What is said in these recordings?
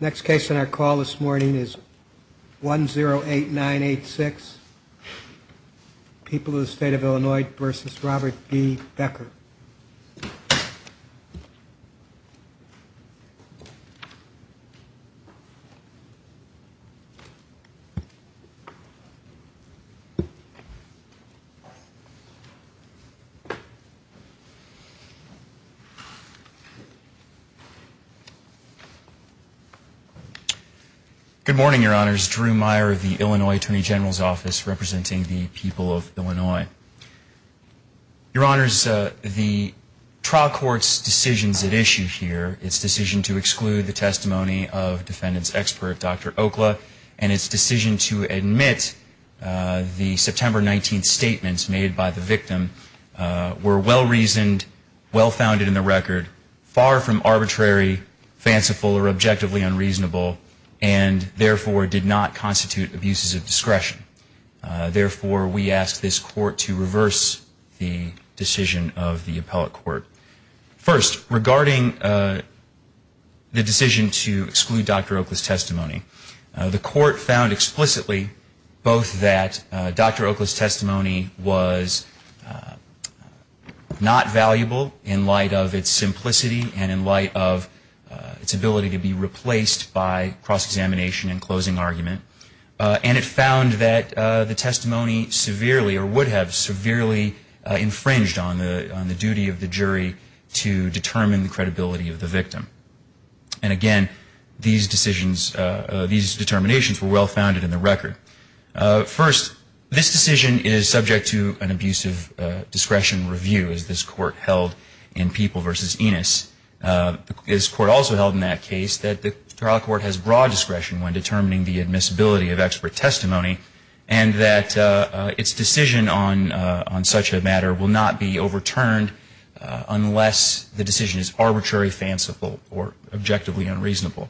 Next case on our call this morning is 108986, People of the State of Illinois v. Robert B. Becker. Good morning, your honors. Drew Meyer of the Illinois Attorney General's Office representing the people of Illinois. Your honors, the trial court's decisions at issue here, its decision to exclude the testimony of defendants expert Dr. Okla, and its decision to admit the September 19th statements made by the victim, were well reasoned, well founded in the record, far from arbitrary, fanciful, or objectively unreasonable, and therefore did not constitute abuses of discretion. Therefore, we ask this court to reverse the decision of the appellate court. First, regarding the decision to exclude Dr. Okla's testimony, the court found explicitly both that Dr. Okla's testimony was not valuable in light of its simplicity and in light of its ability to be replaced by cross-examination and closing argument, and it found that the testimony severely, or would have severely, infringed on the duty of the jury to determine the credibility of the victim. And again, these decisions, these determinations were well founded in the record. First, this decision is subject to an abusive discretion review, as this court held in People v. Enos. This court also held in that case that the trial court has broad discretion when determining the admissibility of expert testimony, and that its decision on such a matter will not be overturned unless the decision is arbitrary, fanciful, or objectively unreasonable.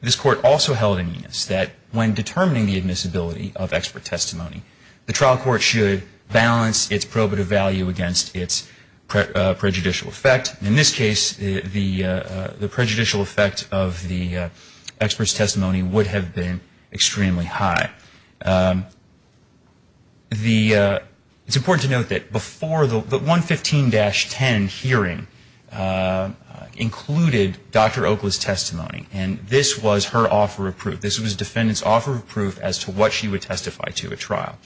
This court also held in Enos that when determining the admissibility of expert testimony, the trial court should balance its probative value against its prejudicial effect. In this case, the prejudicial effect of the expert's testimony would have been extremely high. It's important to note that before the 115-10 hearing, included Dr. Okla's testimony, and this was her offer of proof. This was the defendant's offer of proof as to what she would testify to at trial.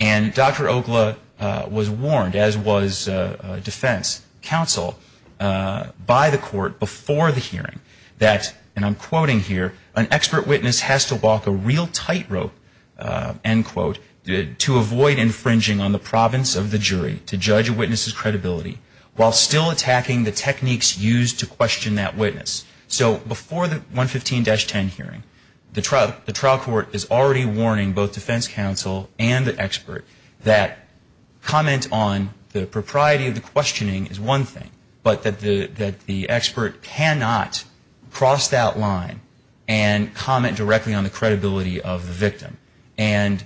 And Dr. Okla was warned, as was defense counsel by the court before the hearing, that, and I'm quoting here, an expert witness has to walk a real tightrope, end quote, to avoid infringing on the province of the jury to judge a witness's credibility while still attacking the techniques used to question that witness. So before the 115-10 hearing, the trial court is already warning both defense counsel and the expert that comment on the propriety of the questioning is one thing, but that the expert cannot cross that line and comment directly on the credibility of the victim. And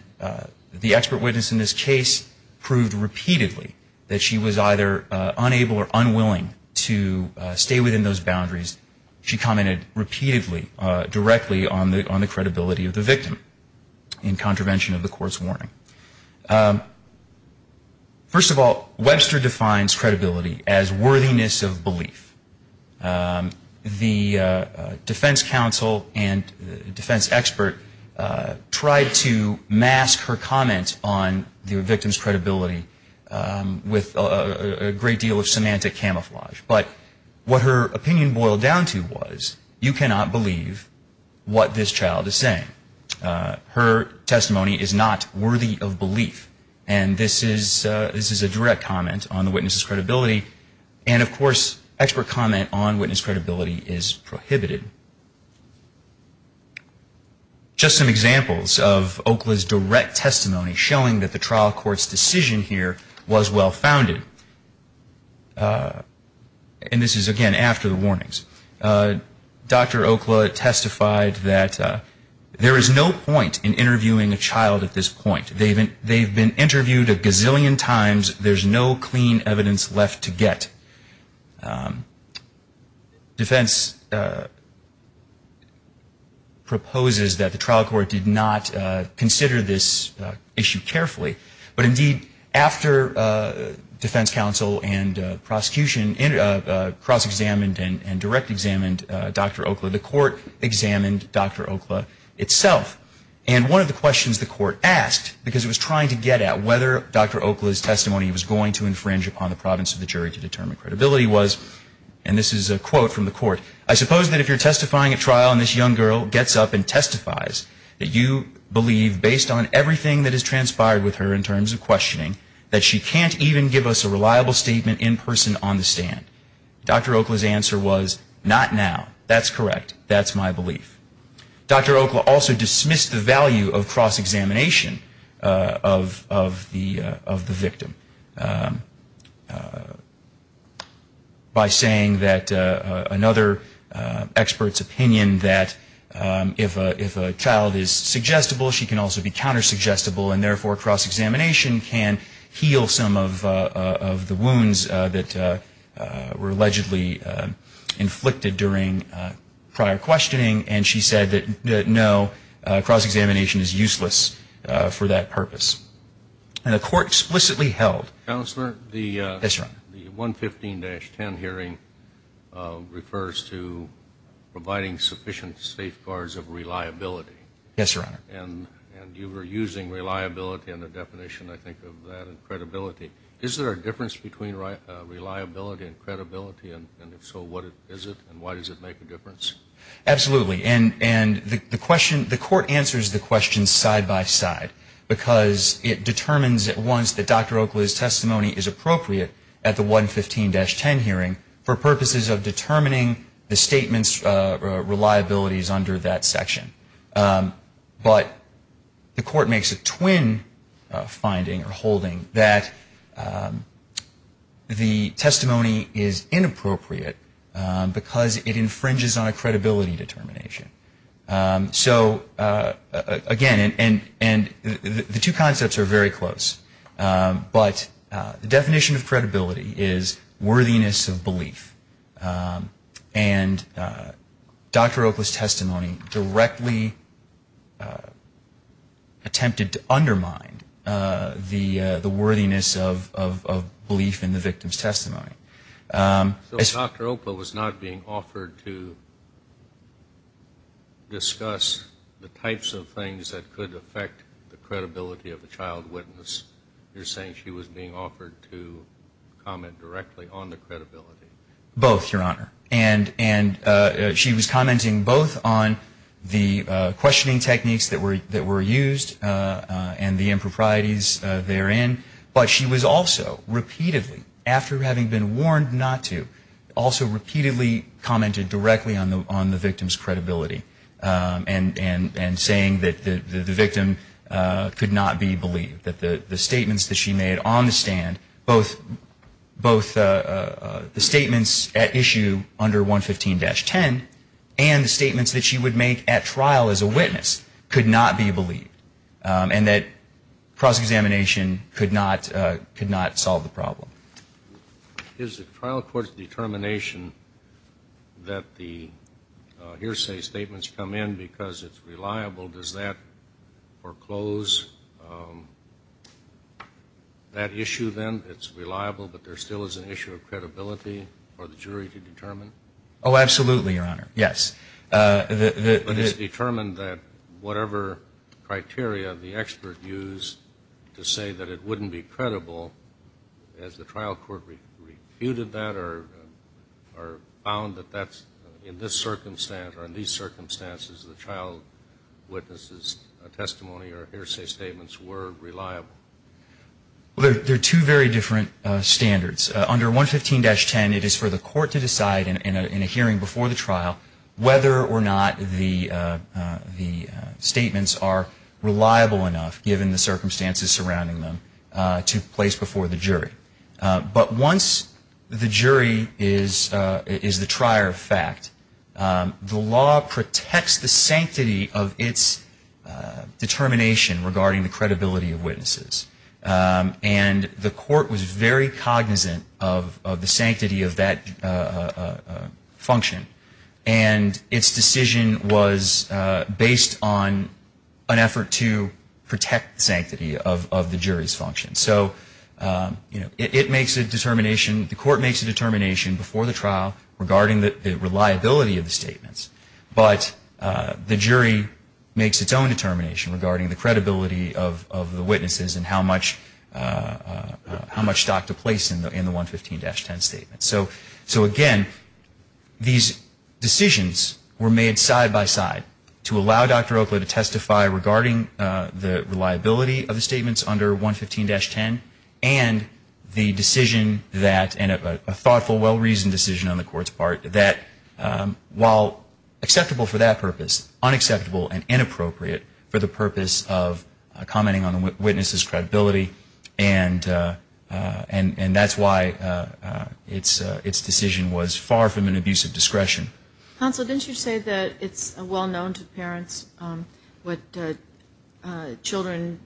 the expert witness in this case proved repeatedly that she was either unable or unwilling to stay within those boundaries. She commented repeatedly, directly on the credibility of the victim in contravention of the court's warning. First of all, Webster defines credibility as worthiness of belief. The defense counsel and defense expert tried to mask her comment on the victim's credibility with a great deal of semantic camouflage. But what her opinion boiled down to was, you cannot believe what this child is saying. Her testimony is not worthy of belief. And this is a direct comment on the witness's credibility. And, of course, expert comment on witness credibility is prohibited. Just some examples of Oklah's direct testimony showing that the trial court's decision here was well founded. And this is, again, after the warnings. Dr. Oklah testified that there is no point in interviewing a child at this point. They've been interviewed a gazillion times. There's no clean evidence left to get. Defense proposes that the trial court did not consider this issue carefully. But, indeed, after defense counsel and prosecution cross-examined and direct-examined Dr. Oklah, the court examined Dr. Oklah itself. And one of the questions the court asked, because it was trying to get at whether Dr. Oklah's testimony was going to infringe upon the province of the jury to determine credibility, was, and this is a quote from the court, I suppose that if you're testifying at trial and this young girl gets up and testifies, that you believe, based on everything that has transpired with her in terms of questioning, that she can't even give us a reliable statement in person on the stand. Dr. Oklah's answer was, not now. That's correct. That's my belief. Dr. Oklah also dismissed the value of cross-examination of the victim by saying that another expert's opinion that if a child is suggestible, she can also be counter-suggestible, and therefore cross-examination can heal some of the wounds that were allegedly inflicted during prior questioning, and she said that no, cross-examination is useless for that purpose. And the court explicitly held. Counselor, the 115-10 hearing refers to providing sufficient safeguards of reliability. Yes, Your Honor. And you were using reliability in the definition, I think, of that and credibility. Is there a difference between reliability and credibility, and if so, what is it and why does it make a difference? Absolutely. And the question, the court answers the question side-by-side because it determines at once that Dr. Oklah's testimony is appropriate at the 115-10 hearing for purposes of determining the statement's reliability is under that section. But the court makes a twin finding or holding that the testimony is inappropriate because it infringes on a credibility determination. So, again, and the two concepts are very close, but the definition of credibility is worthiness of belief. And Dr. Oklah's testimony directly attempted to undermine the worthiness of belief in the victim's testimony. So Dr. Oklah was not being offered to discuss the types of things that could affect the credibility of the child witness. You're saying she was being offered to comment directly on the credibility. Both, Your Honor, and she was commenting both on the questioning techniques that were used and the improprieties therein, but she was also repeatedly, after having been warned not to, also repeatedly commented directly on the victim's credibility and saying that the victim could not be issue under 115-10 and the statements that she would make at trial as a witness could not be believed and that cross-examination could not solve the problem. Is the trial court's determination that the hearsay statements come in because it's reliable, does that foreclose that issue then? It's reliable, but there still is an issue of credibility for the jury to determine? Oh, absolutely, Your Honor, yes. But it's determined that whatever criteria the expert used to say that it wouldn't be credible, has the trial court refuted that or found that that's in this circumstance that the trial witness' testimony or hearsay statements were reliable? Well, they're two very different standards. Under 115-10, it is for the court to decide in a hearing before the trial whether or not the statements are reliable enough, given the circumstances surrounding them, to place before the jury. But once the jury is the trier of fact, the law protects the sanctity of its determination regarding the credibility of witnesses. And the court was very cognizant of the sanctity of that function, and its decision was based on an effort to protect the sanctity of the jury's function. So it makes a determination, the court makes a determination before the trial, regarding the reliability of the statements. But the jury makes its own determination regarding the credibility of the witnesses and how much stock to place in the 115-10 statement. So again, these decisions were made side by side to allow Dr. Oakley to testify regarding the reliability of the statements under 115-10 and the decision that, and a thoughtful, well-reasoned decision on the court's part, that while acceptable for that purpose, unacceptable and inappropriate for the purpose of commenting on the witness' credibility, and that's why its decision was far from an abuse of discretion. Counsel, didn't you say that it's well-known to parents what children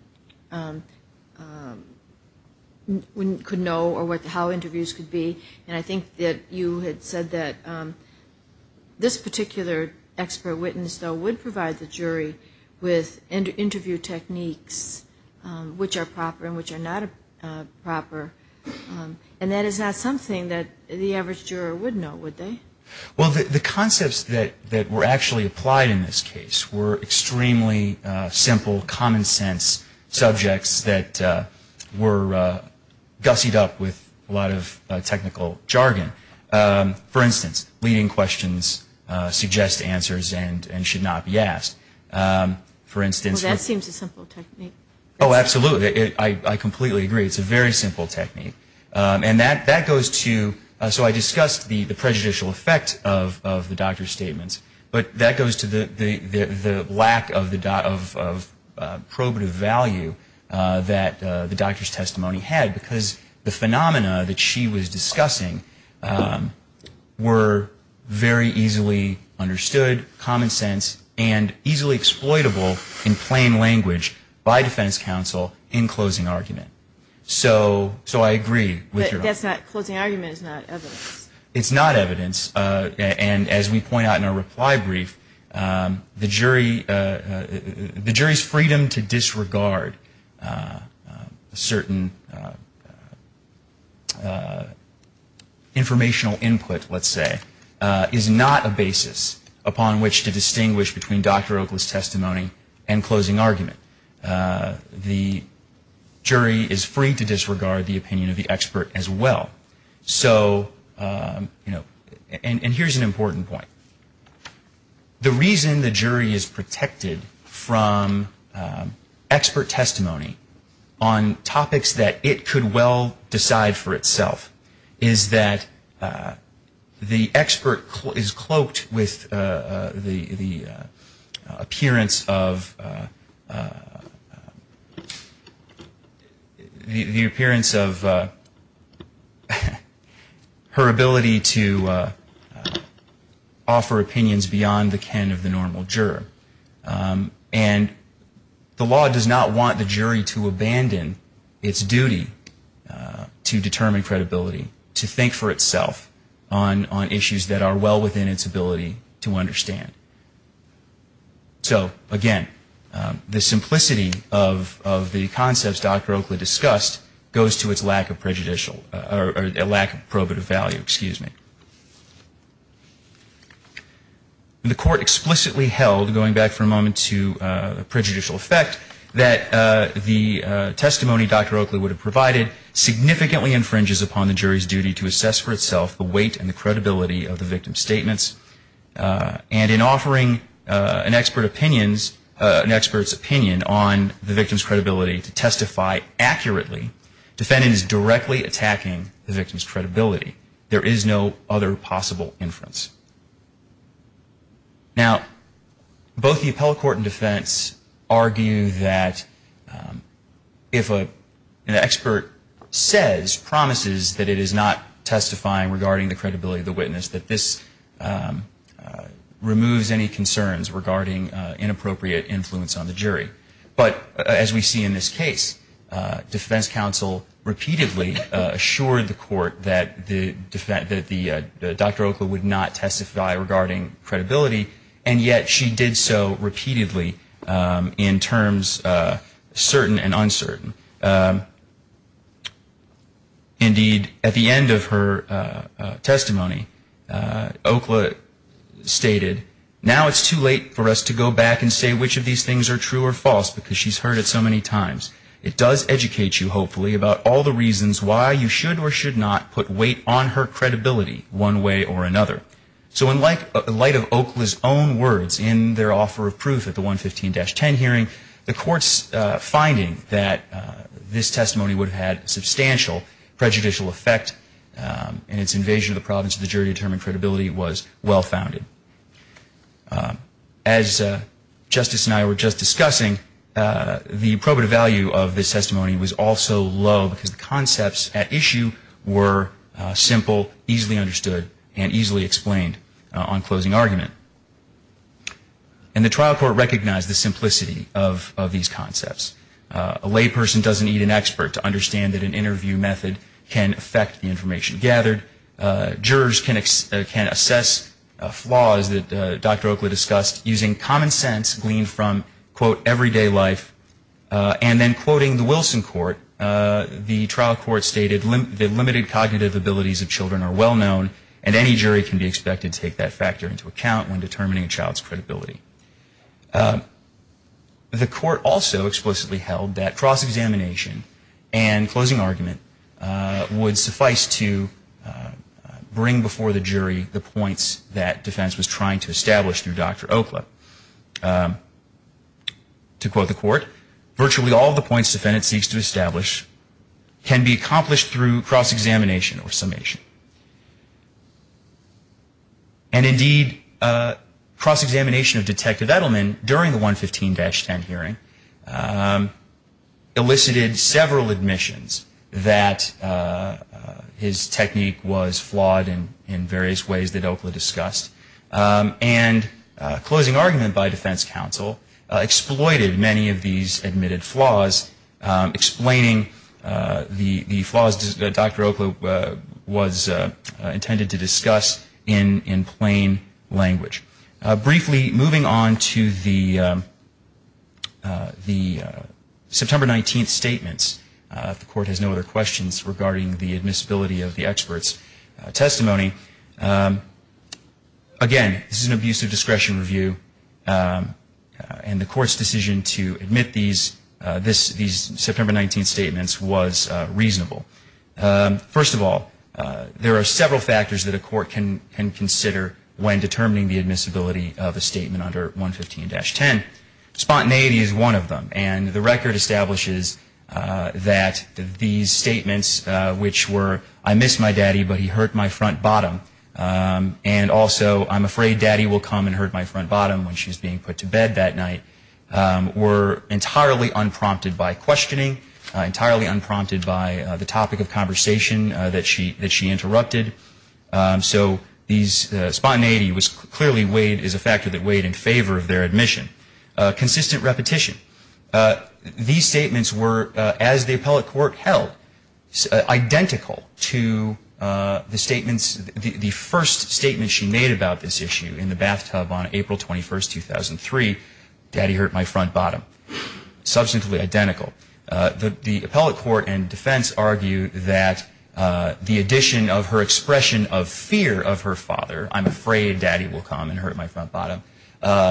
could know or how interviews could be? And I think that you had said that this particular expert witness, though, would provide the jury with interview techniques which are proper and which are not proper, and that is not something that the average juror would know, would they? Well, the concepts that were actually applied in this case were extremely simple, common-sense subjects that were gussied up with a lot of technical jargon. For instance, leading questions suggest answers and should not be asked. Well, that seems a simple technique. Oh, absolutely. I completely agree. It's a very simple technique. So I discussed the prejudicial effect of the doctor's statements, but that goes to the lack of probative value that the doctor's testimony had, because the phenomena that she was discussing were very easily understood, common-sense, and easily exploitable in plain language by defense counsel in closing argument. So I agree with your argument. But closing argument is not evidence. It's not evidence, and as we point out in our reply brief, the jury's freedom to disregard certain informational input, let's say, is not a basis upon which to distinguish between Dr. Oakley's testimony and closing argument. The jury is free to disregard the opinion of the expert as well. So, you know, and here's an important point. The reason the jury is protected from expert testimony on topics that it could well decide for itself is that the expert is cloaked with the appearance of her ability to offer opinions beyond the ken of the normal juror. And the law does not want the jury to abandon its duty to determine credibility, to think for itself on issues that are well within its ability to understand. So, again, the simplicity of the concepts Dr. Oakley discussed goes to its lack of prejudicial, or lack of probative value, excuse me. The court explicitly held, going back for a moment to prejudicial effect, that the testimony Dr. Oakley would have provided significantly infringes upon the jury's duty to assess for itself the weight and the credibility of the victim's statements. And in offering an expert's opinion on the victim's credibility to testify accurately, defendant is directly attacking the victim's credibility. There is no other possible inference. Now, both the appellate court and defense argue that if an expert says, promises, that it is not testifying regarding the credibility of the witness, that this removes any concerns regarding inappropriate influence on the jury. But, as we see in this case, defense counsel repeatedly assured the court that Dr. Oakley would not testify regarding credibility, and yet she did so repeatedly in terms certain and uncertain. Indeed, at the end of her testimony, Oakley stated, Now it's too late for us to go back and say which of these things are true or false, because she's heard it so many times. It does educate you, hopefully, about all the reasons why you should or should not put weight on her credibility one way or another. So in light of Oakley's own words in their offer of proof at the 115-10 hearing, the court's finding that this testimony would have had substantial prejudicial effect and its invasion of the province of the jury to determine credibility was well-founded. As Justice and I were just discussing, the probative value of this testimony was also low because the concepts at issue were simple, easily understood, and easily explained on closing argument. And the trial court recognized the simplicity of these concepts. A layperson doesn't need an expert to understand that an interview method can affect the information gathered. Jurors can assess flaws that Dr. Oakley discussed using common sense gleaned from, quote, everyday life. And then quoting the Wilson court, the trial court stated, The limited cognitive abilities of children are well-known, and any jury can be expected to take that factor into account when determining a child's credibility. The court also explicitly held that cross-examination and closing argument would suffice to bring before the jury the points that defense was trying to establish through Dr. Oakley. To quote the court, Virtually all the points defendant seeks to establish can be accomplished through cross-examination or summation. And indeed, cross-examination of Detective Edelman during the 115-10 hearing elicited several admissions that his technique was flawed in various ways that Oakley discussed. And closing argument by defense counsel exploited many of these admitted flaws, explaining the flaws that Dr. Oakley was intended to discuss in plain language. Briefly, moving on to the September 19th statements. The court has no other questions regarding the admissibility of the expert's testimony. Again, this is an abusive discretion review, and the court's decision to admit these September 19th statements was reasonable. First of all, there are several factors that a court can consider when determining the admissibility of a statement under 115-10. Spontaneity is one of them, and the record establishes that these statements, which were, I miss my daddy, but he hurt my front bottom, and also I'm afraid daddy will come and hurt my front bottom when she's being put to bed that night, were entirely unprompted by questioning, entirely unprompted by the topic of conversation that she interrupted. So these, spontaneity was clearly weighed, is a factor that weighed in favor of their admission. Consistent repetition. These statements were, as the appellate court held, identical to the statements, the first statement she made about this issue in the bathtub on April 21st, 2003, daddy hurt my front bottom. Substantively identical. The appellate court and defense argue that the addition of her expression of fear of her father, I'm afraid daddy will come and hurt my front bottom,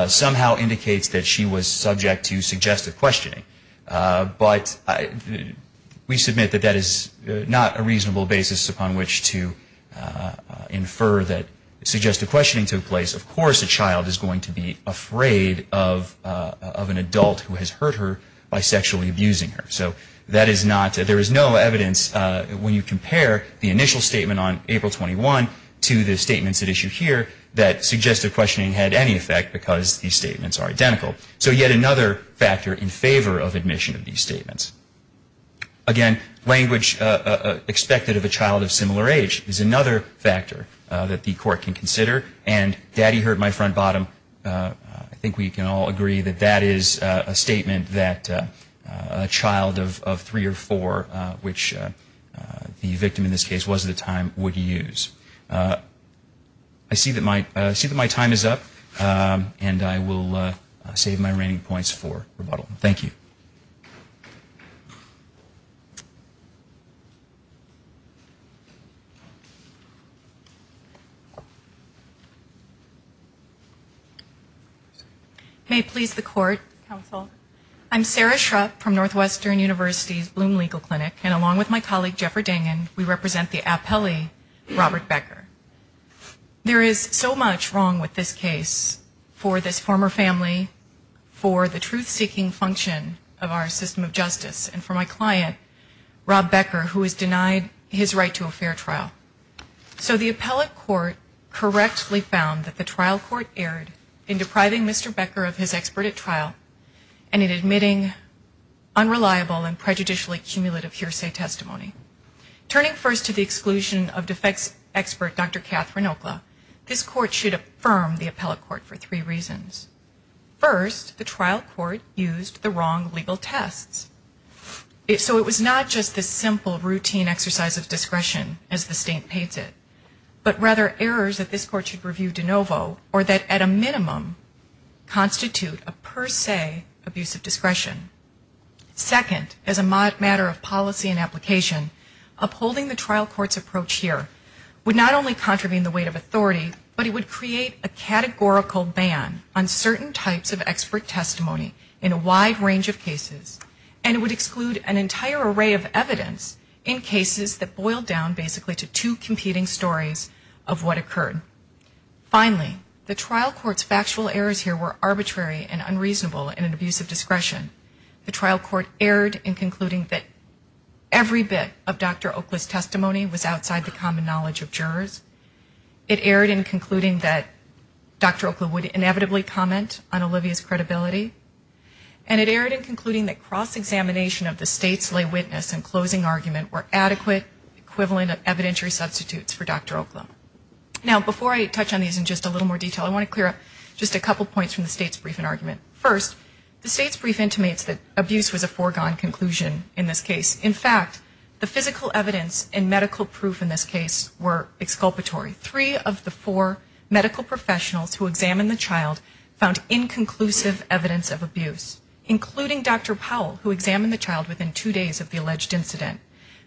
somehow indicates that she was subject to suggestive questioning. But we submit that that is not a reasonable basis upon which to infer that suggestive questioning took place. Of course a child is going to be afraid of an adult who has hurt her by sexually abusing her. So that is not, there is no evidence when you compare the initial statement on April 21 to the statements at issue here that suggestive questioning had any effect because these statements are identical. So yet another factor in favor of admission of these statements. Again, language expected of a child of similar age is another factor that the court can consider. And daddy hurt my front bottom, I think we can all agree that that is a statement that a child of three or four, which the victim in this case was at the time, would use. I see that my time is up and I will save my reigning points for rebuttal. Thank you. May it please the court, counsel. I'm Sarah Schrupp from Northwestern University's Bloom Legal Clinic and along with my colleague, Jeffrey Dangin, we represent the appellee, Robert Becker. There is so much wrong with this case for this former family, for the truth-seeking function of our system of justice, and for my client, Rob Becker, who is denied his right to a fair trial. So the appellate court correctly found that the trial court erred in depriving Mr. Becker of his expert at trial and in admitting unreliable and prejudicially cumulative hearsay testimony. Turning first to the exclusion of defects expert, Dr. Catherine Okla, this court should affirm the appellate court for three reasons. First, the trial court used the wrong legal tests. So it was not just this simple routine exercise of discretion as the state paints it, but rather errors that this court should review de novo or that at a minimum constitute a per se abuse of discretion. Second, as a matter of policy and application, upholding the trial court's approach here would not only contravene the weight of authority, but it would create a categorical ban on certain types of expert testimony in a wide range of cases, and it would exclude an entire array of evidence in cases that boiled down basically to two competing stories of what occurred. Finally, the trial court's factual errors here were arbitrary and unreasonable in an abuse of discretion. The trial court erred in concluding that every bit of Dr. Okla's testimony was outside the common knowledge of jurors. It erred in concluding that Dr. Okla would inevitably comment on Olivia's credibility. And it erred in concluding that cross-examination of the state's lay witness and closing argument were adequate equivalent evidentiary substitutes for Dr. Okla. Now, before I touch on these in just a little more detail, I want to clear up just a couple points from the state's briefing argument. First, the state's brief intimates that abuse was a foregone conclusion in this case. In fact, the physical evidence and medical proof in this case were exculpatory. Three of the four medical professionals who examined the child found inconclusive evidence of abuse, including Dr. Powell, who examined the child within two days of the alleged incident.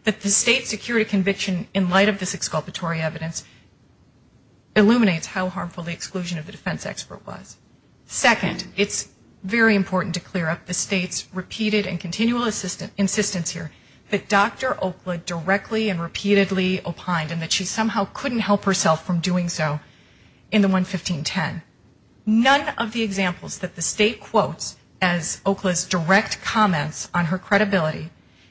That the state secured a conviction in light of this exculpatory evidence illuminates how harmful the exclusion of the defense expert was. Second, it's very important to clear up the state's repeated and continual insistence here that Dr. Okla directly and repeatedly opined and that she somehow couldn't help herself from doing so in the 11510. None of the examples that the state quotes as Okla's direct comments on her credibility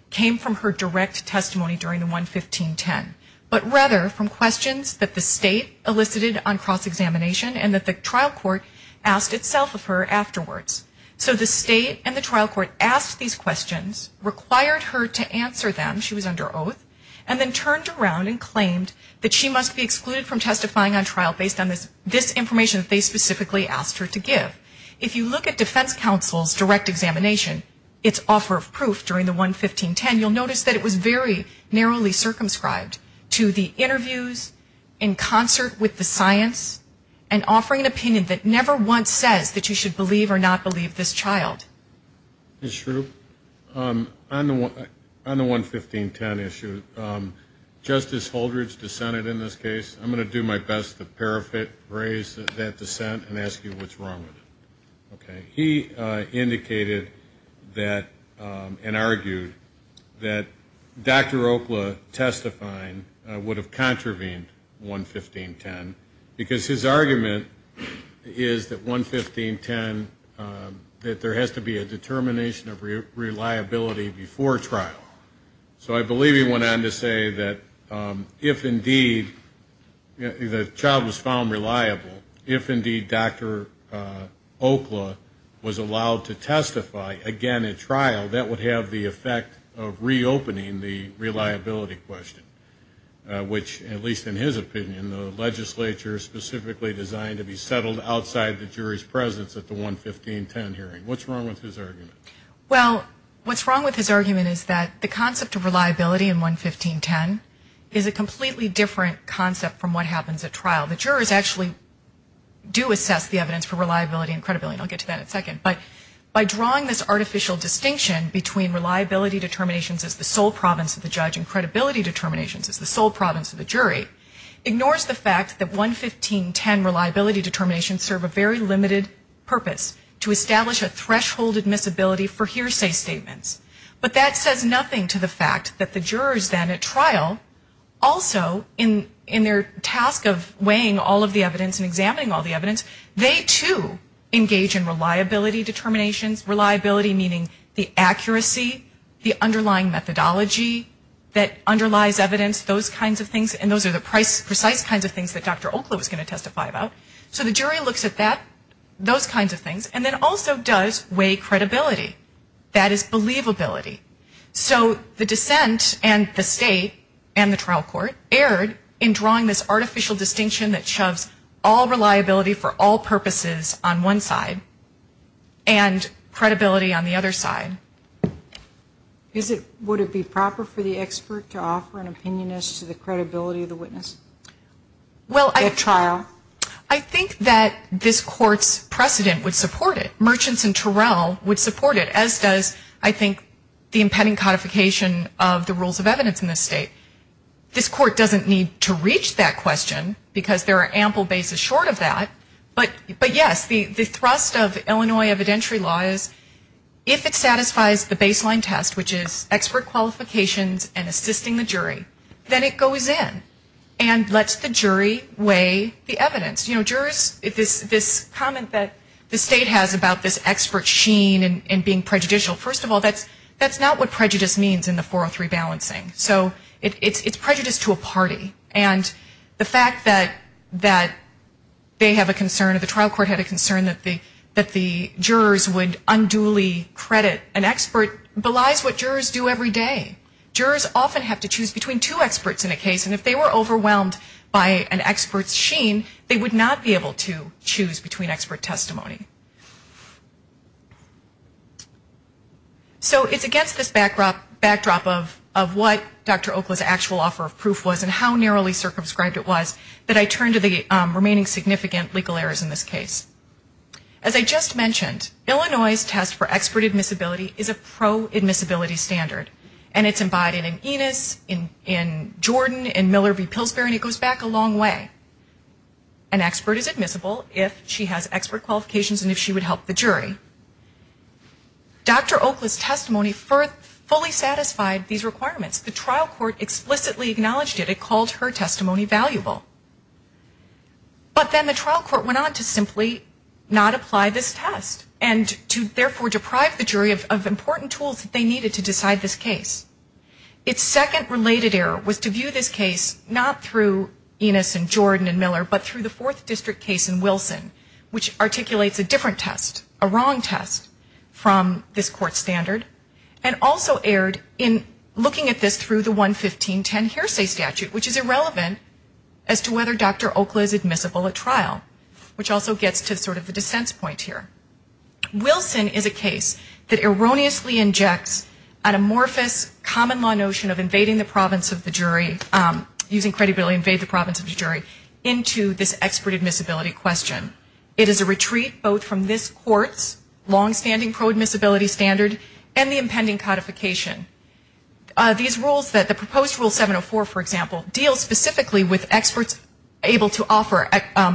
came from her direct testimony during the 11510, but rather from questions that the state elicited on cross-examination and that the trial court asked itself of her afterwards. So the state and the trial court asked these questions, required her to answer them, she was under oath, and then turned around and claimed that she must be excluded from testifying on trial based on this information that they specifically asked her to give. If you look at defense counsel's direct examination, its offer of proof during the 11510, you'll notice that it was very narrowly circumscribed to the interviews in concert with the science and offering an opinion that never once says that you should believe or not believe this child. Mr. Shrew, on the 11510 issue, Justice Holdridge dissented in this case. I'm going to do my best to paraphrase that dissent and ask you what's wrong with it. He indicated that and argued that Dr. Okla testifying would have contravened 11510 because his argument is that 11510, that there has to be a determination of reliability before trial. So I believe he went on to say that if indeed the child was found reliable, if indeed Dr. Okla was allowed to testify again at trial, that would have the effect of reopening the reliability question, which, at least in his opinion, in the legislature specifically designed to be settled outside the jury's presence at the 11510 hearing. What's wrong with his argument? Well, what's wrong with his argument is that the concept of reliability in 11510 is a completely different concept from what happens at trial. The jurors actually do assess the evidence for reliability and credibility, and I'll get to that in a second. But by drawing this artificial distinction between reliability determinations as the sole province of the judge and credibility determinations as the sole province of the jury ignores the fact that 11510 reliability determinations serve a very limited purpose, to establish a threshold admissibility for hearsay statements. But that says nothing to the fact that the jurors then at trial also in their task of weighing all of the evidence and examining all the evidence, they too engage in reliability determinations, reliability meaning the accuracy, the underlying methodology, that underlies evidence, those kinds of things, and those are the precise kinds of things that Dr. Oakley was going to testify about. So the jury looks at that, those kinds of things, and then also does weigh credibility. That is believability. So the dissent and the state and the trial court erred in drawing this artificial distinction that shoves all reliability for all purposes on one side and credibility on the other side. Would it be proper for the expert to offer an opinion as to the credibility of the witness at trial? I think that this court's precedent would support it. Merchants and Terrell would support it, as does, I think, the impending codification of the rules of evidence in this state. This court doesn't need to reach that question because there are ample bases short of that. But yes, the thrust of Illinois evidentiary law is if it satisfies the baseline test, which is expert qualifications and assisting the jury, then it goes in and lets the jury weigh the evidence. You know, jurors, this comment that the state has about this expert sheen and being prejudicial, first of all, that's not what prejudice means in the 403 balancing. So it's prejudice to a party. And the fact that they have a concern or the trial court had a concern that the jurors would unduly credit an expert belies what jurors do every day. Jurors often have to choose between two experts in a case, and if they were overwhelmed by an expert sheen, they would not be able to choose between expert testimony. So it's against this backdrop of what Dr. Oakley's actual offer of proof was and how narrowly circumscribed it was that I turn to the remaining significant legal errors in this case. As I just mentioned, Illinois' test for expert admissibility is a pro-admissibility standard, and it's embodied in Enos, in Jordan, in Miller v. Wilson. The trial court explicitly acknowledged it. It called her testimony valuable. But then the trial court went on to simply not apply this test and to therefore deprive the jury of important tools that they needed to decide this case. Its second related error was to view this case not through Enos and Jordan and Miller, but through the fourth district case in Wilson, which articulates a different test, a wrong test, from this court standard, and also erred in looking at this through the 11510 hearsay statute, which is irrelevant as to whether Dr. Oakley is admissible at trial, which also gets to sort of the dissent point here. It's a retreat both from this court's long-standing pro-admissibility standard and the impending codification. These rules, the proposed rule 704, for example, deals specifically with experts able to offer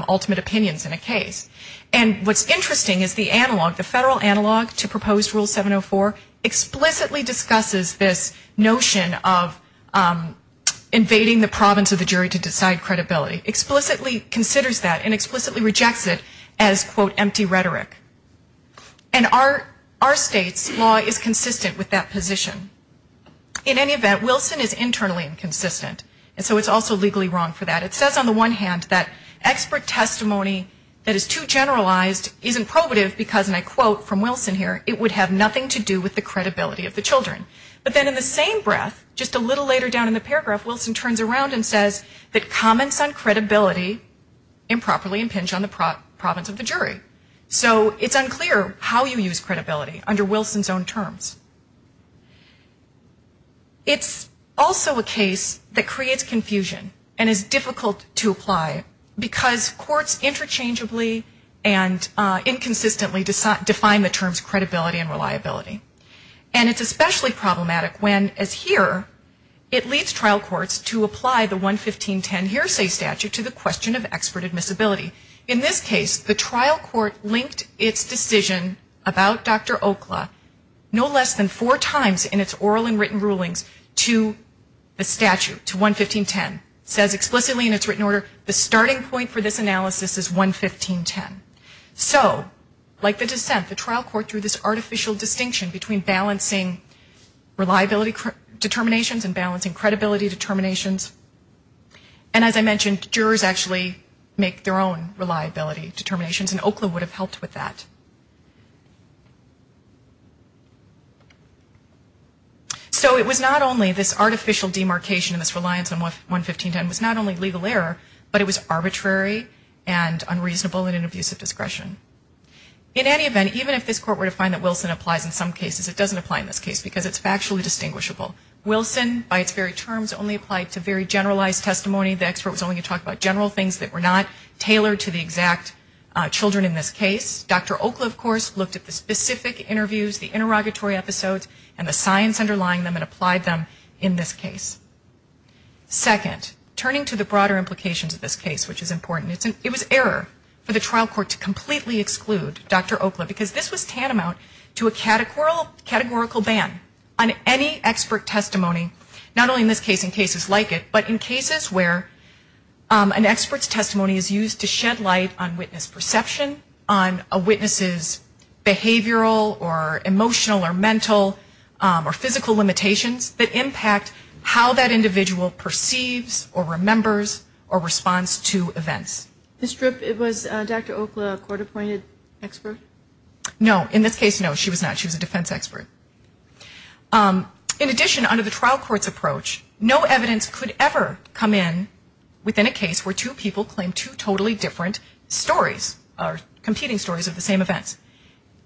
ultimate opinions in a case. And what's interesting is the analog, the federal analog to proposed rule 704 explicitly discusses this, and it's not the notion of invading the province of the jury to decide credibility. Explicitly considers that and explicitly rejects it as, quote, empty rhetoric. And our state's law is consistent with that position. In any event, Wilson is internally inconsistent, and so it's also legally wrong for that. It says on the one hand that expert testimony that is too generalized isn't probative because, and I quote from Wilson here, it would have nothing to do with the credibility of the children. But then in the same breath, just a little later down in the paragraph, Wilson turns around and says that comments on credibility improperly impinge on the province of the jury. So it's unclear how you use credibility under Wilson's own terms. It's also a case that creates confusion and is difficult to apply because courts interchangeably and inconsistently define the terms credibility and reliability. And it's especially problematic when, as here, it leads trial courts to apply the 11510 hearsay statute to the question of expert admissibility. In this case, the trial court linked its decision about Dr. Okla no less than four times in its oral and written rulings to the statute, to 11510. It says explicitly in its written order, the starting point for this analysis is 11510. So, like the dissent, the trial court drew this artificial distinction between balancing reliability determinations and balancing credibility determinations. And as I mentioned, jurors actually make their own reliability determinations, and Okla would have helped with that. So it was not only this artificial demarcation and this reliance on 11510 was not only legal error, but it was arbitrary and unreasonable and an abuse of discretion. In any event, even if this court were to find that Wilson applies in some cases, it doesn't apply in this case because it's factually distinguishable. Wilson, by its very terms, only applied to very generalized testimony. The expert was only going to talk about general things that were not tailored to the exact children in this case. Dr. Okla, of course, looked at the specific interviews, the interrogatory episodes, and the signs underlying them and applied them in this case. Second, turning to the broader implications of this case, which is important, it was error for the trial court to completely exclude Dr. Okla because this was tantamount to a categorical ban on any expert testimony, not only in this case and but in cases where an expert's testimony is used to shed light on witness perception, on a witness's behavioral or emotional or mental or physical limitations that impact how that individual perceives or remembers or responds to events. This trip, was Dr. Okla a court-appointed expert? No. In this case, no, she was not. She was a defense expert. In addition, under the trial court's approach, no evidence could ever come in within a case where two people claim two totally different stories or competing stories of the same events.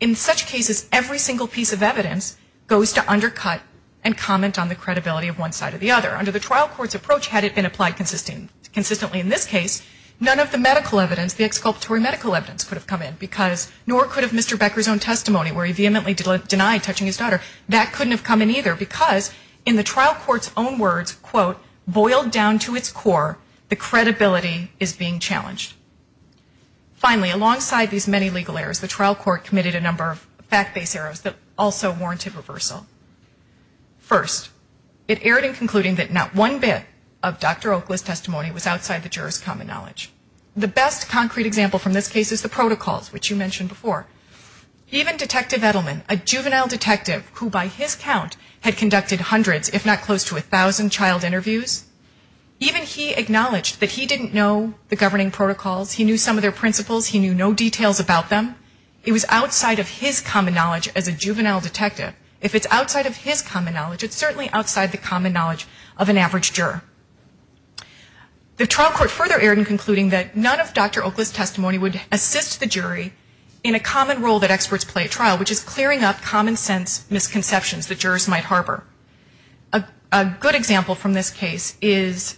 In such cases, every single piece of evidence goes to undercut and comment on the credibility of one side or the other. Under the trial court's approach, had it been applied consistently in this case, none of the medical evidence, the exculpatory medical evidence, could have come in because nor could have Mr. Becker's own testimony where he vehemently denied touching his daughter. That couldn't have come in either because in the trial court's own words, quote, boiled down to its core, the credibility is being challenged. Finally, alongside these many legal errors, the trial court committed a number of fact-based errors that also warranted reversal. First, it erred in concluding that not one bit of Dr. Okla's testimony was outside the juror's common knowledge. The best concrete example from this case is the protocols, which you mentioned before. Even Detective Edelman, a juvenile detective who by his count had conducted hundreds, if not close to 1,000 child interviews, even he acknowledged that he didn't know the governing protocols. He knew some of their principles. He knew no details about them. It was outside of his common knowledge as a juvenile detective. If it's outside of his common knowledge, it's certainly outside the common knowledge of an average juror. The trial court further erred in concluding that none of Dr. Okla's testimony would assist the jury in a common role that experts play at trial, which is clearing up common sense misconceptions the jurors might harbor. A good example from this case is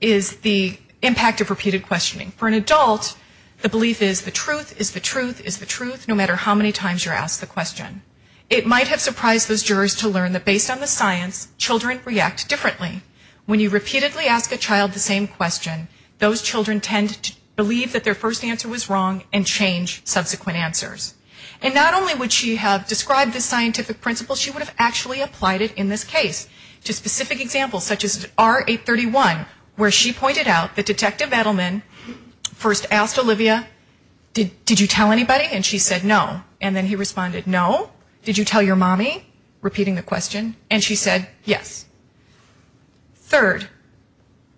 the impact of repeated questioning. For an adult, the belief is the truth is the truth is the truth, no matter how many times you're asked the question. It might have surprised those jurors to learn that based on the science, children react differently. When you repeatedly ask a child the same question, those children tend to believe that their first answer was wrong and change subsequent answers. And not only would she have described this scientific principle, she would have actually applied it in this case to specific examples, such as R831, where she pointed out that Detective Edelman first asked Olivia, did you tell anybody? And she said no. And then he responded, no. Did you tell your mommy, repeating the question? And she said yes. Third,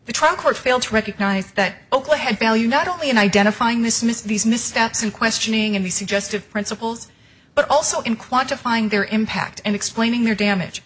the trial court failed to recognize that Okla had value not only in identifying these misconceptions, these steps in questioning and these suggestive principles, but also in quantifying their impact and explaining their damage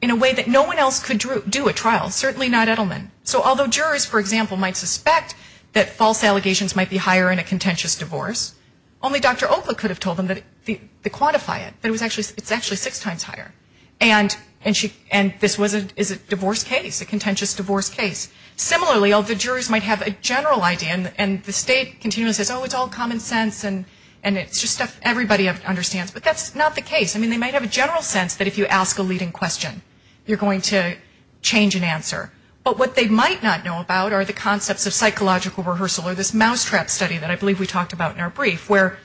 in a way that no one else could do at trial, certainly not Edelman. So although jurors, for example, might suspect that false allegations might be higher in a contentious divorce, only Dr. Okla could have told them to quantify it, that it's actually six times higher. And this is a divorce case, a contentious divorce case. Similarly, the jurors might have a general idea, and the state continues, oh, it's all common sense, and it's just stuff everybody understands. But that's not the case. I mean, they might have a general sense that if you ask a leading question, you're going to change an answer. But what they might not know about are the concepts of psychological rehearsal or this mousetrap study that I believe we talked about in our brief, where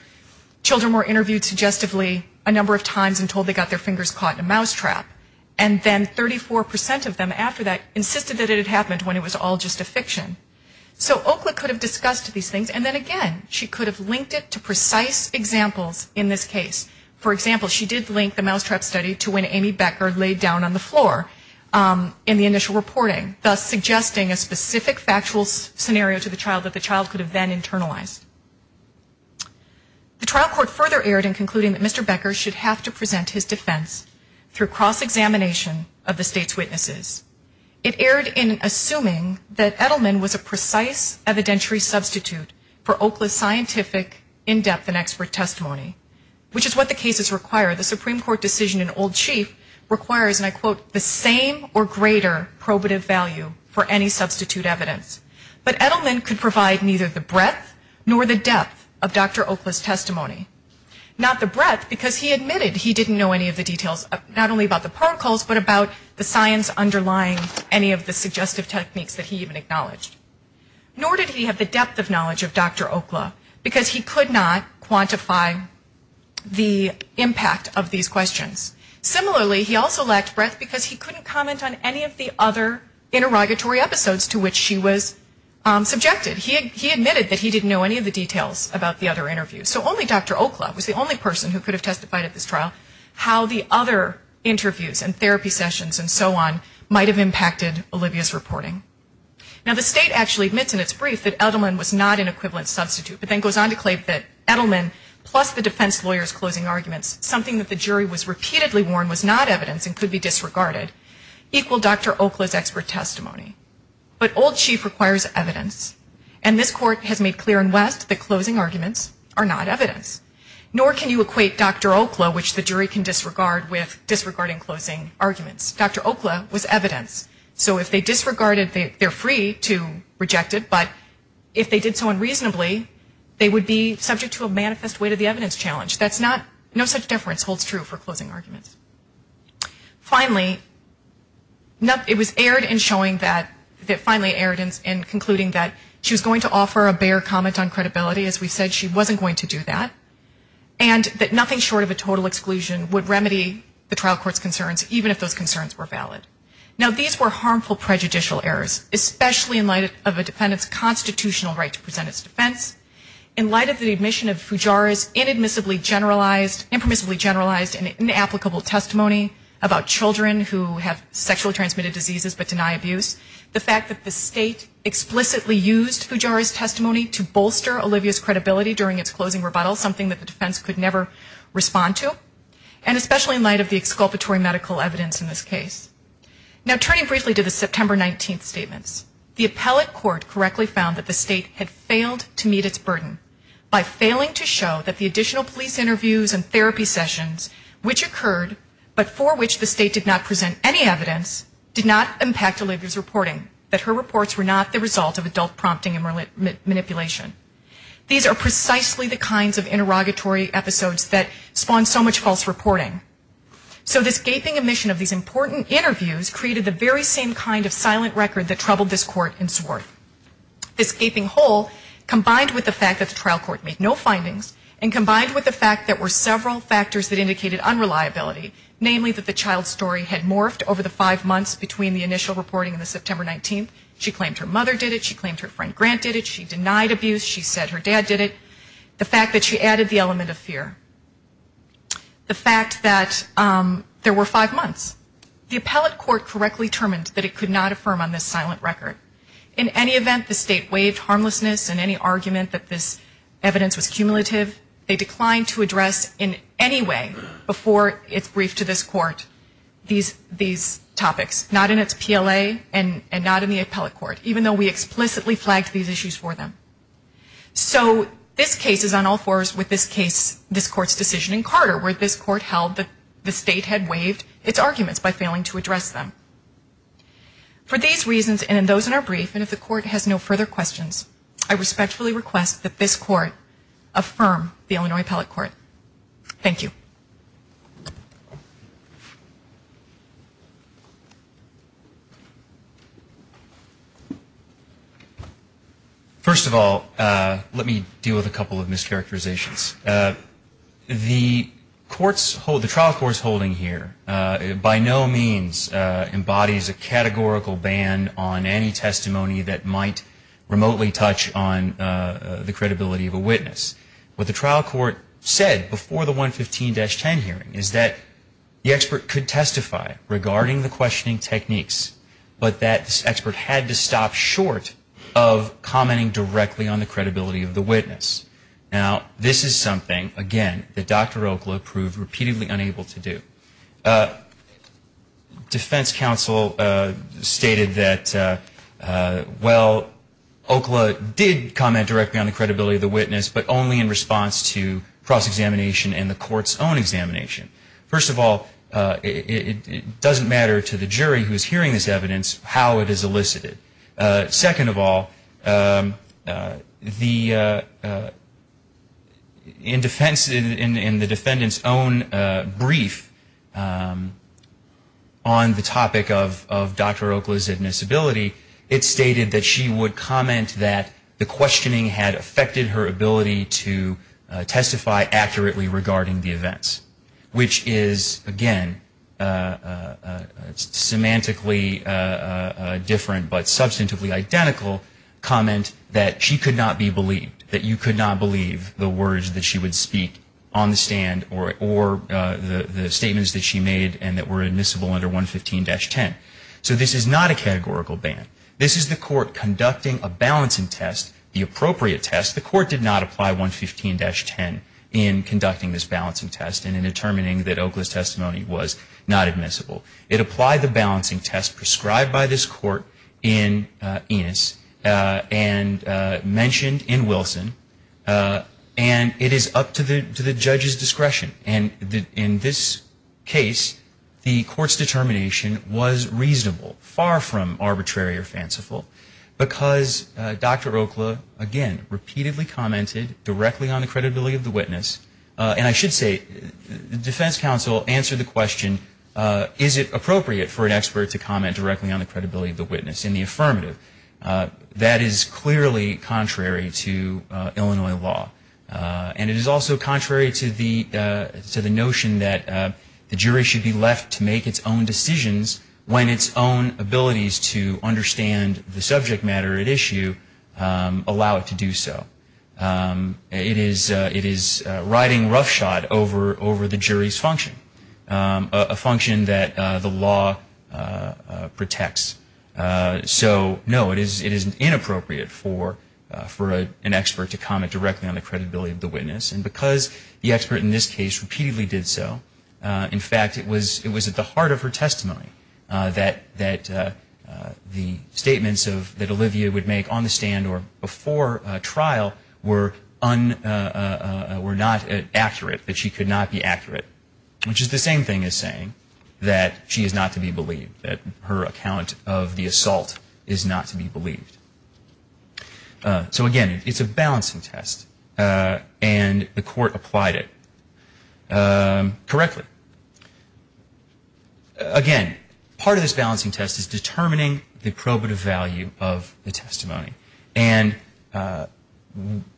children were interviewed suggestively a number of times and told they got their fingers caught in a trap, and it was all just a fiction. So Okla could have discussed these things, and then again, she could have linked it to precise examples in this case. For example, she did link the mousetrap study to when Amy Becker laid down on the floor in the initial reporting, thus suggesting a specific factual scenario to the child that the child could have then internalized. The trial court further erred in concluding that Mr. Becker should have to present his defense through cross-examination of the state's witnesses. It erred in assuming that Edelman was a precise evidentiary substitute for Okla's scientific in-depth and expert testimony, which is what the cases require. The Supreme Court decision in Old Chief requires, and I quote, the same or greater probative value for any substitute evidence. But Edelman could provide neither the breadth nor the depth of Dr. Okla's testimony. Not the breadth, because he admitted he didn't know any of the details, not only about the protocols, but about the science underlying any of the suggestive techniques that he even acknowledged. Nor did he have the depth of knowledge of Dr. Okla, because he could not quantify the impact of these questions. Similarly, he also lacked breadth because he couldn't comment on any of the other interrogatory episodes to which she was subjected. He admitted that he didn't know any of the details about the other interviews. So only Dr. Okla was the only person who could have testified at this trial. How the other interviews and therapy sessions and so on might have impacted Olivia's reporting. Now the state actually admits in its brief that Edelman was not an equivalent substitute, but then goes on to claim that Edelman, plus the defense lawyer's closing arguments, something that the jury was repeatedly warned was not evidence and could be disregarded, equal Dr. Okla's expert testimony. But Old Chief requires evidence, and this court has made clear in West that closing arguments are not evidence. Nor can you equate Dr. Okla, which the jury can disregard, with disregarding closing arguments. Dr. Okla was evidence. So if they disregarded, they're free to reject it, but if they did so unreasonably, they would be subject to a manifest weight of the evidence challenge. That's not, no such difference holds true for closing arguments. Finally, it was aired in showing that, that finally aired in concluding the that she was going to offer a bare comment on credibility. As we said, she wasn't going to do that. And that nothing short of a total exclusion would remedy the trial court's concerns, even if those concerns were valid. Now these were harmful prejudicial errors, especially in light of a defendant's constitutional right to present its defense. In light of the admission of Fujara's inadmissibly generalized, impermissibly generalized and inapplicable testimony about children who have sexually transmitted diseases but deny abuse, the fact that the state explicitly used Fujara's testimony to bolster Olivia's credibility during its closing rebuttal, something that the defense could never respond to, and especially in light of the exculpatory medical evidence in this case. Now turning briefly to the September 19th statements, the appellate court correctly found that the state had failed to meet its burden by failing to show that the additional police interviews and therapy to present any evidence did not impact Olivia's reporting, that her reports were not the result of adult prompting and manipulation. These are precisely the kinds of interrogatory episodes that spawn so much false reporting. So this gaping omission of these important interviews created the very same kind of silent record that troubled this court in Swarth. This gaping hole combined with the fact that the trial court made no findings and combined with the fact that there were several factors that indicated unreliability, namely that the child's story had morphed over the five months between the initial reporting and the September 19th. She claimed her mother did it. She claimed her friend Grant did it. She denied abuse. She said her dad did it. The fact that she added the element of fear. The fact that there were five months. The appellate court correctly determined that it could not affirm on this silent record. In any event, the state waived harmlessness and any argument that this evidence was cumulative. They declined to address in any way before its brief to this court these topics. Not in its PLA and not in the appellate court, even though we explicitly flagged these issues for them. So this case is on all fours with this case, this court's decision in Carter where this court held that the state had waived its arguments by failing to address them. For these reasons and those in our brief and if the court has no further questions, I respectfully request that this court affirm the Illinois appellate court. Thank you. First of all, let me deal with a couple of mischaracterizations. The trial court's holding here by no means embodies a testimony of a witness. It does not remotely touch on the credibility of a witness. What the trial court said before the 115-10 hearing is that the expert could testify regarding the questioning techniques, but that expert had to stop short of commenting directly on the credibility of the witness. Now, this is something, again, that Dr. Oakland proved repeatedly unable to do. Defense counsel stated that, well, Oakland did comment directly on the credibility of the witness, but only in response to cross-examination and the court's own examination. First of all, it doesn't matter to the jury who is hearing this evidence how it is elicited. Second of all, in the defendant's own brief, the defense counsel did not comment directly on the credibility of the witness. On the topic of Dr. Oakland's admissibility, it stated that she would comment that the questioning had affected her ability to testify accurately regarding the events, which is, again, semantically different, but substantively identical comment that she could not be believed, that you could not believe the words that she would speak on the stand or the statements that she made and that were admissible under 115-10. So this is not a categorical ban. This is the court conducting a balancing test, the appropriate test. The court did not apply 115-10 in conducting this balancing test and in determining that Oakland's testimony was not admissible. It applied the balancing test prescribed by this court in Enos and mentioned in Wilson, and it is otherwise unacceptable for the court to apply a balancing test. It is up to the judge's discretion. And in this case, the court's determination was reasonable, far from arbitrary or fanciful, because Dr. Oakland, again, repeatedly commented directly on the credibility of the witness. And I should say, the defense counsel answered the question, is it appropriate for an expert to comment directly on the credibility of the witness in the affirmative? That is clearly contrary to Illinois law. And it is also not appropriate for an expert to comment directly on the credibility of the witness. It is also contrary to the notion that the jury should be left to make its own decisions when its own abilities to understand the subject matter at issue allow it to do so. It is riding roughshod over the jury's function, a function that the law protects. So, no, it is inappropriate for an expert to comment directly on the credibility of the witness, because the expert in this case repeatedly did so. In fact, it was at the heart of her testimony that the statements that Olivia would make on the stand or before trial were not accurate, that she could not be accurate, which is the same thing as saying that she is not to be believed, that her account of the assault is not to be believed. So, again, it is a balancing test. And the court applied it correctly. Again, part of this balancing test is determining the probative value of the testimony. And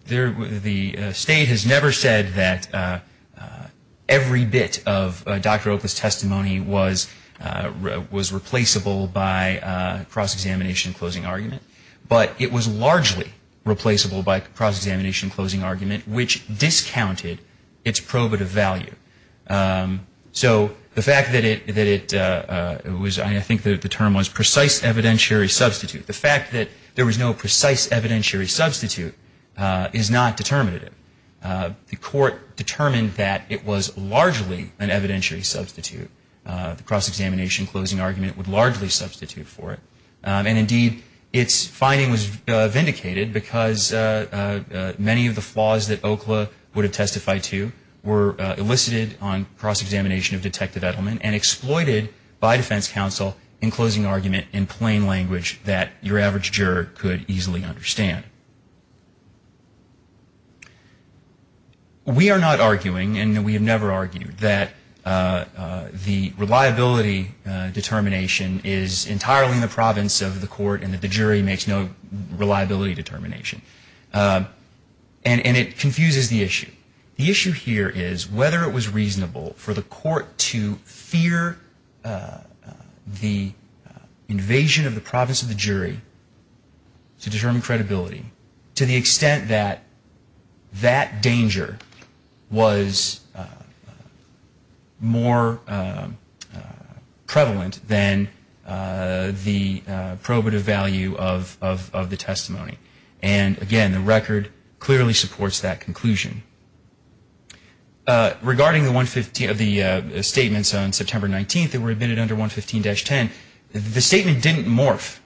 the state has never said that every bit of Dr. Opa's testimony was replaceable by cross-examination closing argument, but it was largely replaceable by cross-examination closing argument, which discounted its probative value. So, the fact that it was, I think the term was precise evidentiary substitute, the fact that there was no precise evidentiary substitute is not determinative. The court determined that it was largely an evidentiary substitute. The cross-examination closing argument would have been vindicated because many of the flaws that Okla would have testified to were elicited on cross-examination of detective Edelman and exploited by defense counsel in closing argument in plain language that your average juror could easily understand. We are not arguing, and we have never argued, that the reliability determination is entirely in the province of the jury. And it confuses the issue. The issue here is whether it was reasonable for the court to fear the invasion of the province of the jury to determine credibility to the extent that that danger was more prevalent than the probative value of the testimony. And, again, the record clearly supports that conclusion. Regarding the statements on September 19th that were admitted under 115-10, the statement didn't morph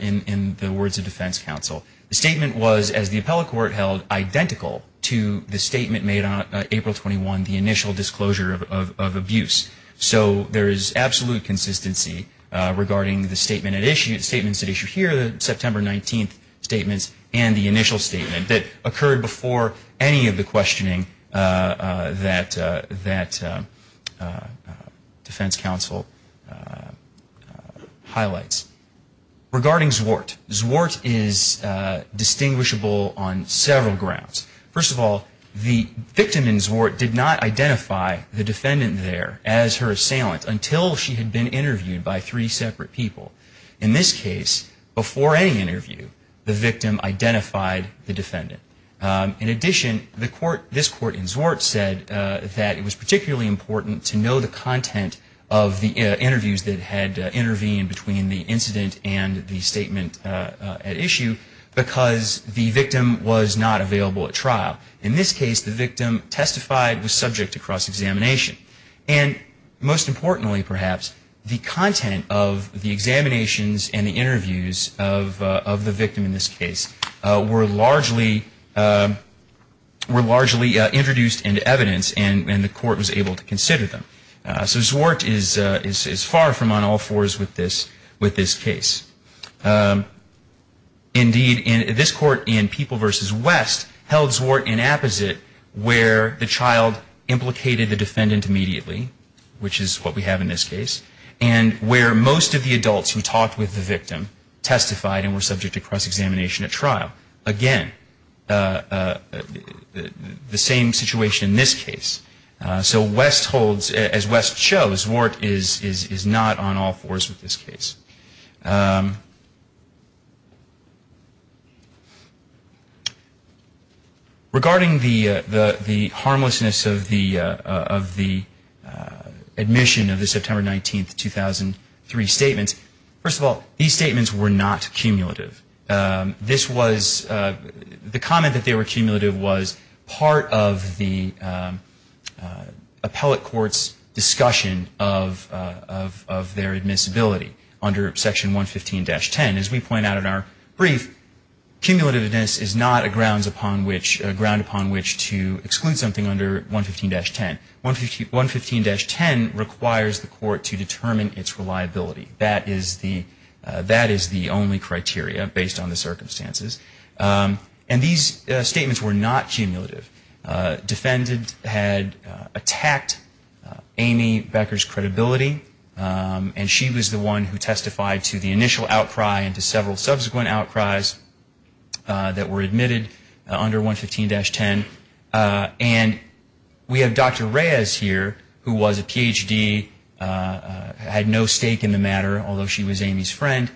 in the words of defense counsel. The statement was, as the appellate court held, identical to the statement made on April 21, the initial disclosure of abuse. So, there is absolute consistency regarding the statements at issue here, September 19th, and the statement that was made on April 21, the statements, and the initial statement that occurred before any of the questioning that defense counsel highlights. Regarding Zwart, Zwart is distinguishable on several grounds. First of all, the victim in Zwart did not identify the defendant there as her assailant until she had been interviewed by three separate people. In this case, before any interview, she had been interviewed by three different people. In this case, the victim identified the defendant. In addition, this court in Zwart said that it was particularly important to know the content of the interviews that had intervened between the incident and the statement at issue, because the victim was not available at trial. In this case, the victim testified, was subject to cross-examination. And, most importantly, perhaps, the content of the examinations and the interviews of the victim in this case was not available at trial. So, the content of the interviews in this case were largely introduced into evidence, and the court was able to consider them. So, Zwart is far from on all fours with this case. Indeed, this court in People v. West held Zwart in apposite, where the child implicated the defendant immediately, which is what we have in this case, and where most of the adults who talked with the victim testified and were subject to cross-examination. Again, the same situation in this case. So, as West shows, Zwart is not on all fours with this case. Regarding the harmlessness of the admission of the September 19, 2003 statements, first of all, these statements were not cumulative. This was, the comment that they were cumulative was part of the appellate court's discussion of their admissibility under Section 115-10. As we point out in our brief, cumulativeness is not a ground upon which to exclude something under 115-10. 115-10 requires the court to determine its reliability. That is the only criteria. Based on the circumstances. And these statements were not cumulative. Defendant had attacked Amy Becker's credibility, and she was the one who testified to the initial outcry and to several subsequent outcries that were admitted under 115-10. And we have Dr. Reyes here, who was a Ph.D., had no stake in the matter, although she was Amy's friend,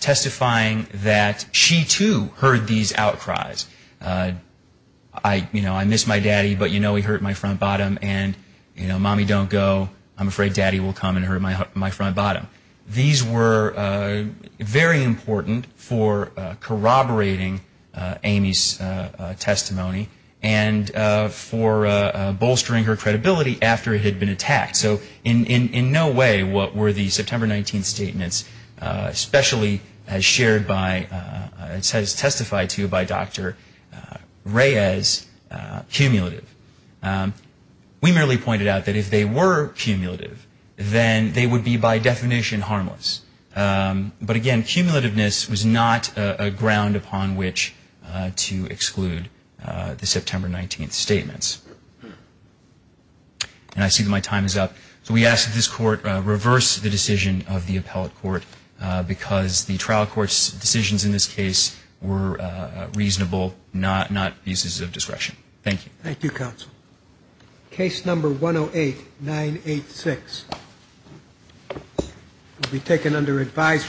testifying that she, too, heard these outcries. I miss my daddy, but you know he hurt my front bottom. And mommy, don't go. I'm afraid daddy will come and hurt my front bottom. These were very important for corroborating Amy's testimony and for bolstering her credibility after it had been attacked. So in no way were the September 19th statements especially as shared by, as testified to by Dr. Reyes, cumulative. We merely pointed out that if they were cumulative, then they would be by definition harmless. But again, cumulativeness was not a ground upon which to exclude the September 19th statements. And I see that my time is up. So we ask that this Court reverse the decision of the appellate court, because the trial court's decisions in this case were reasonable, not uses of discretion. Thank you.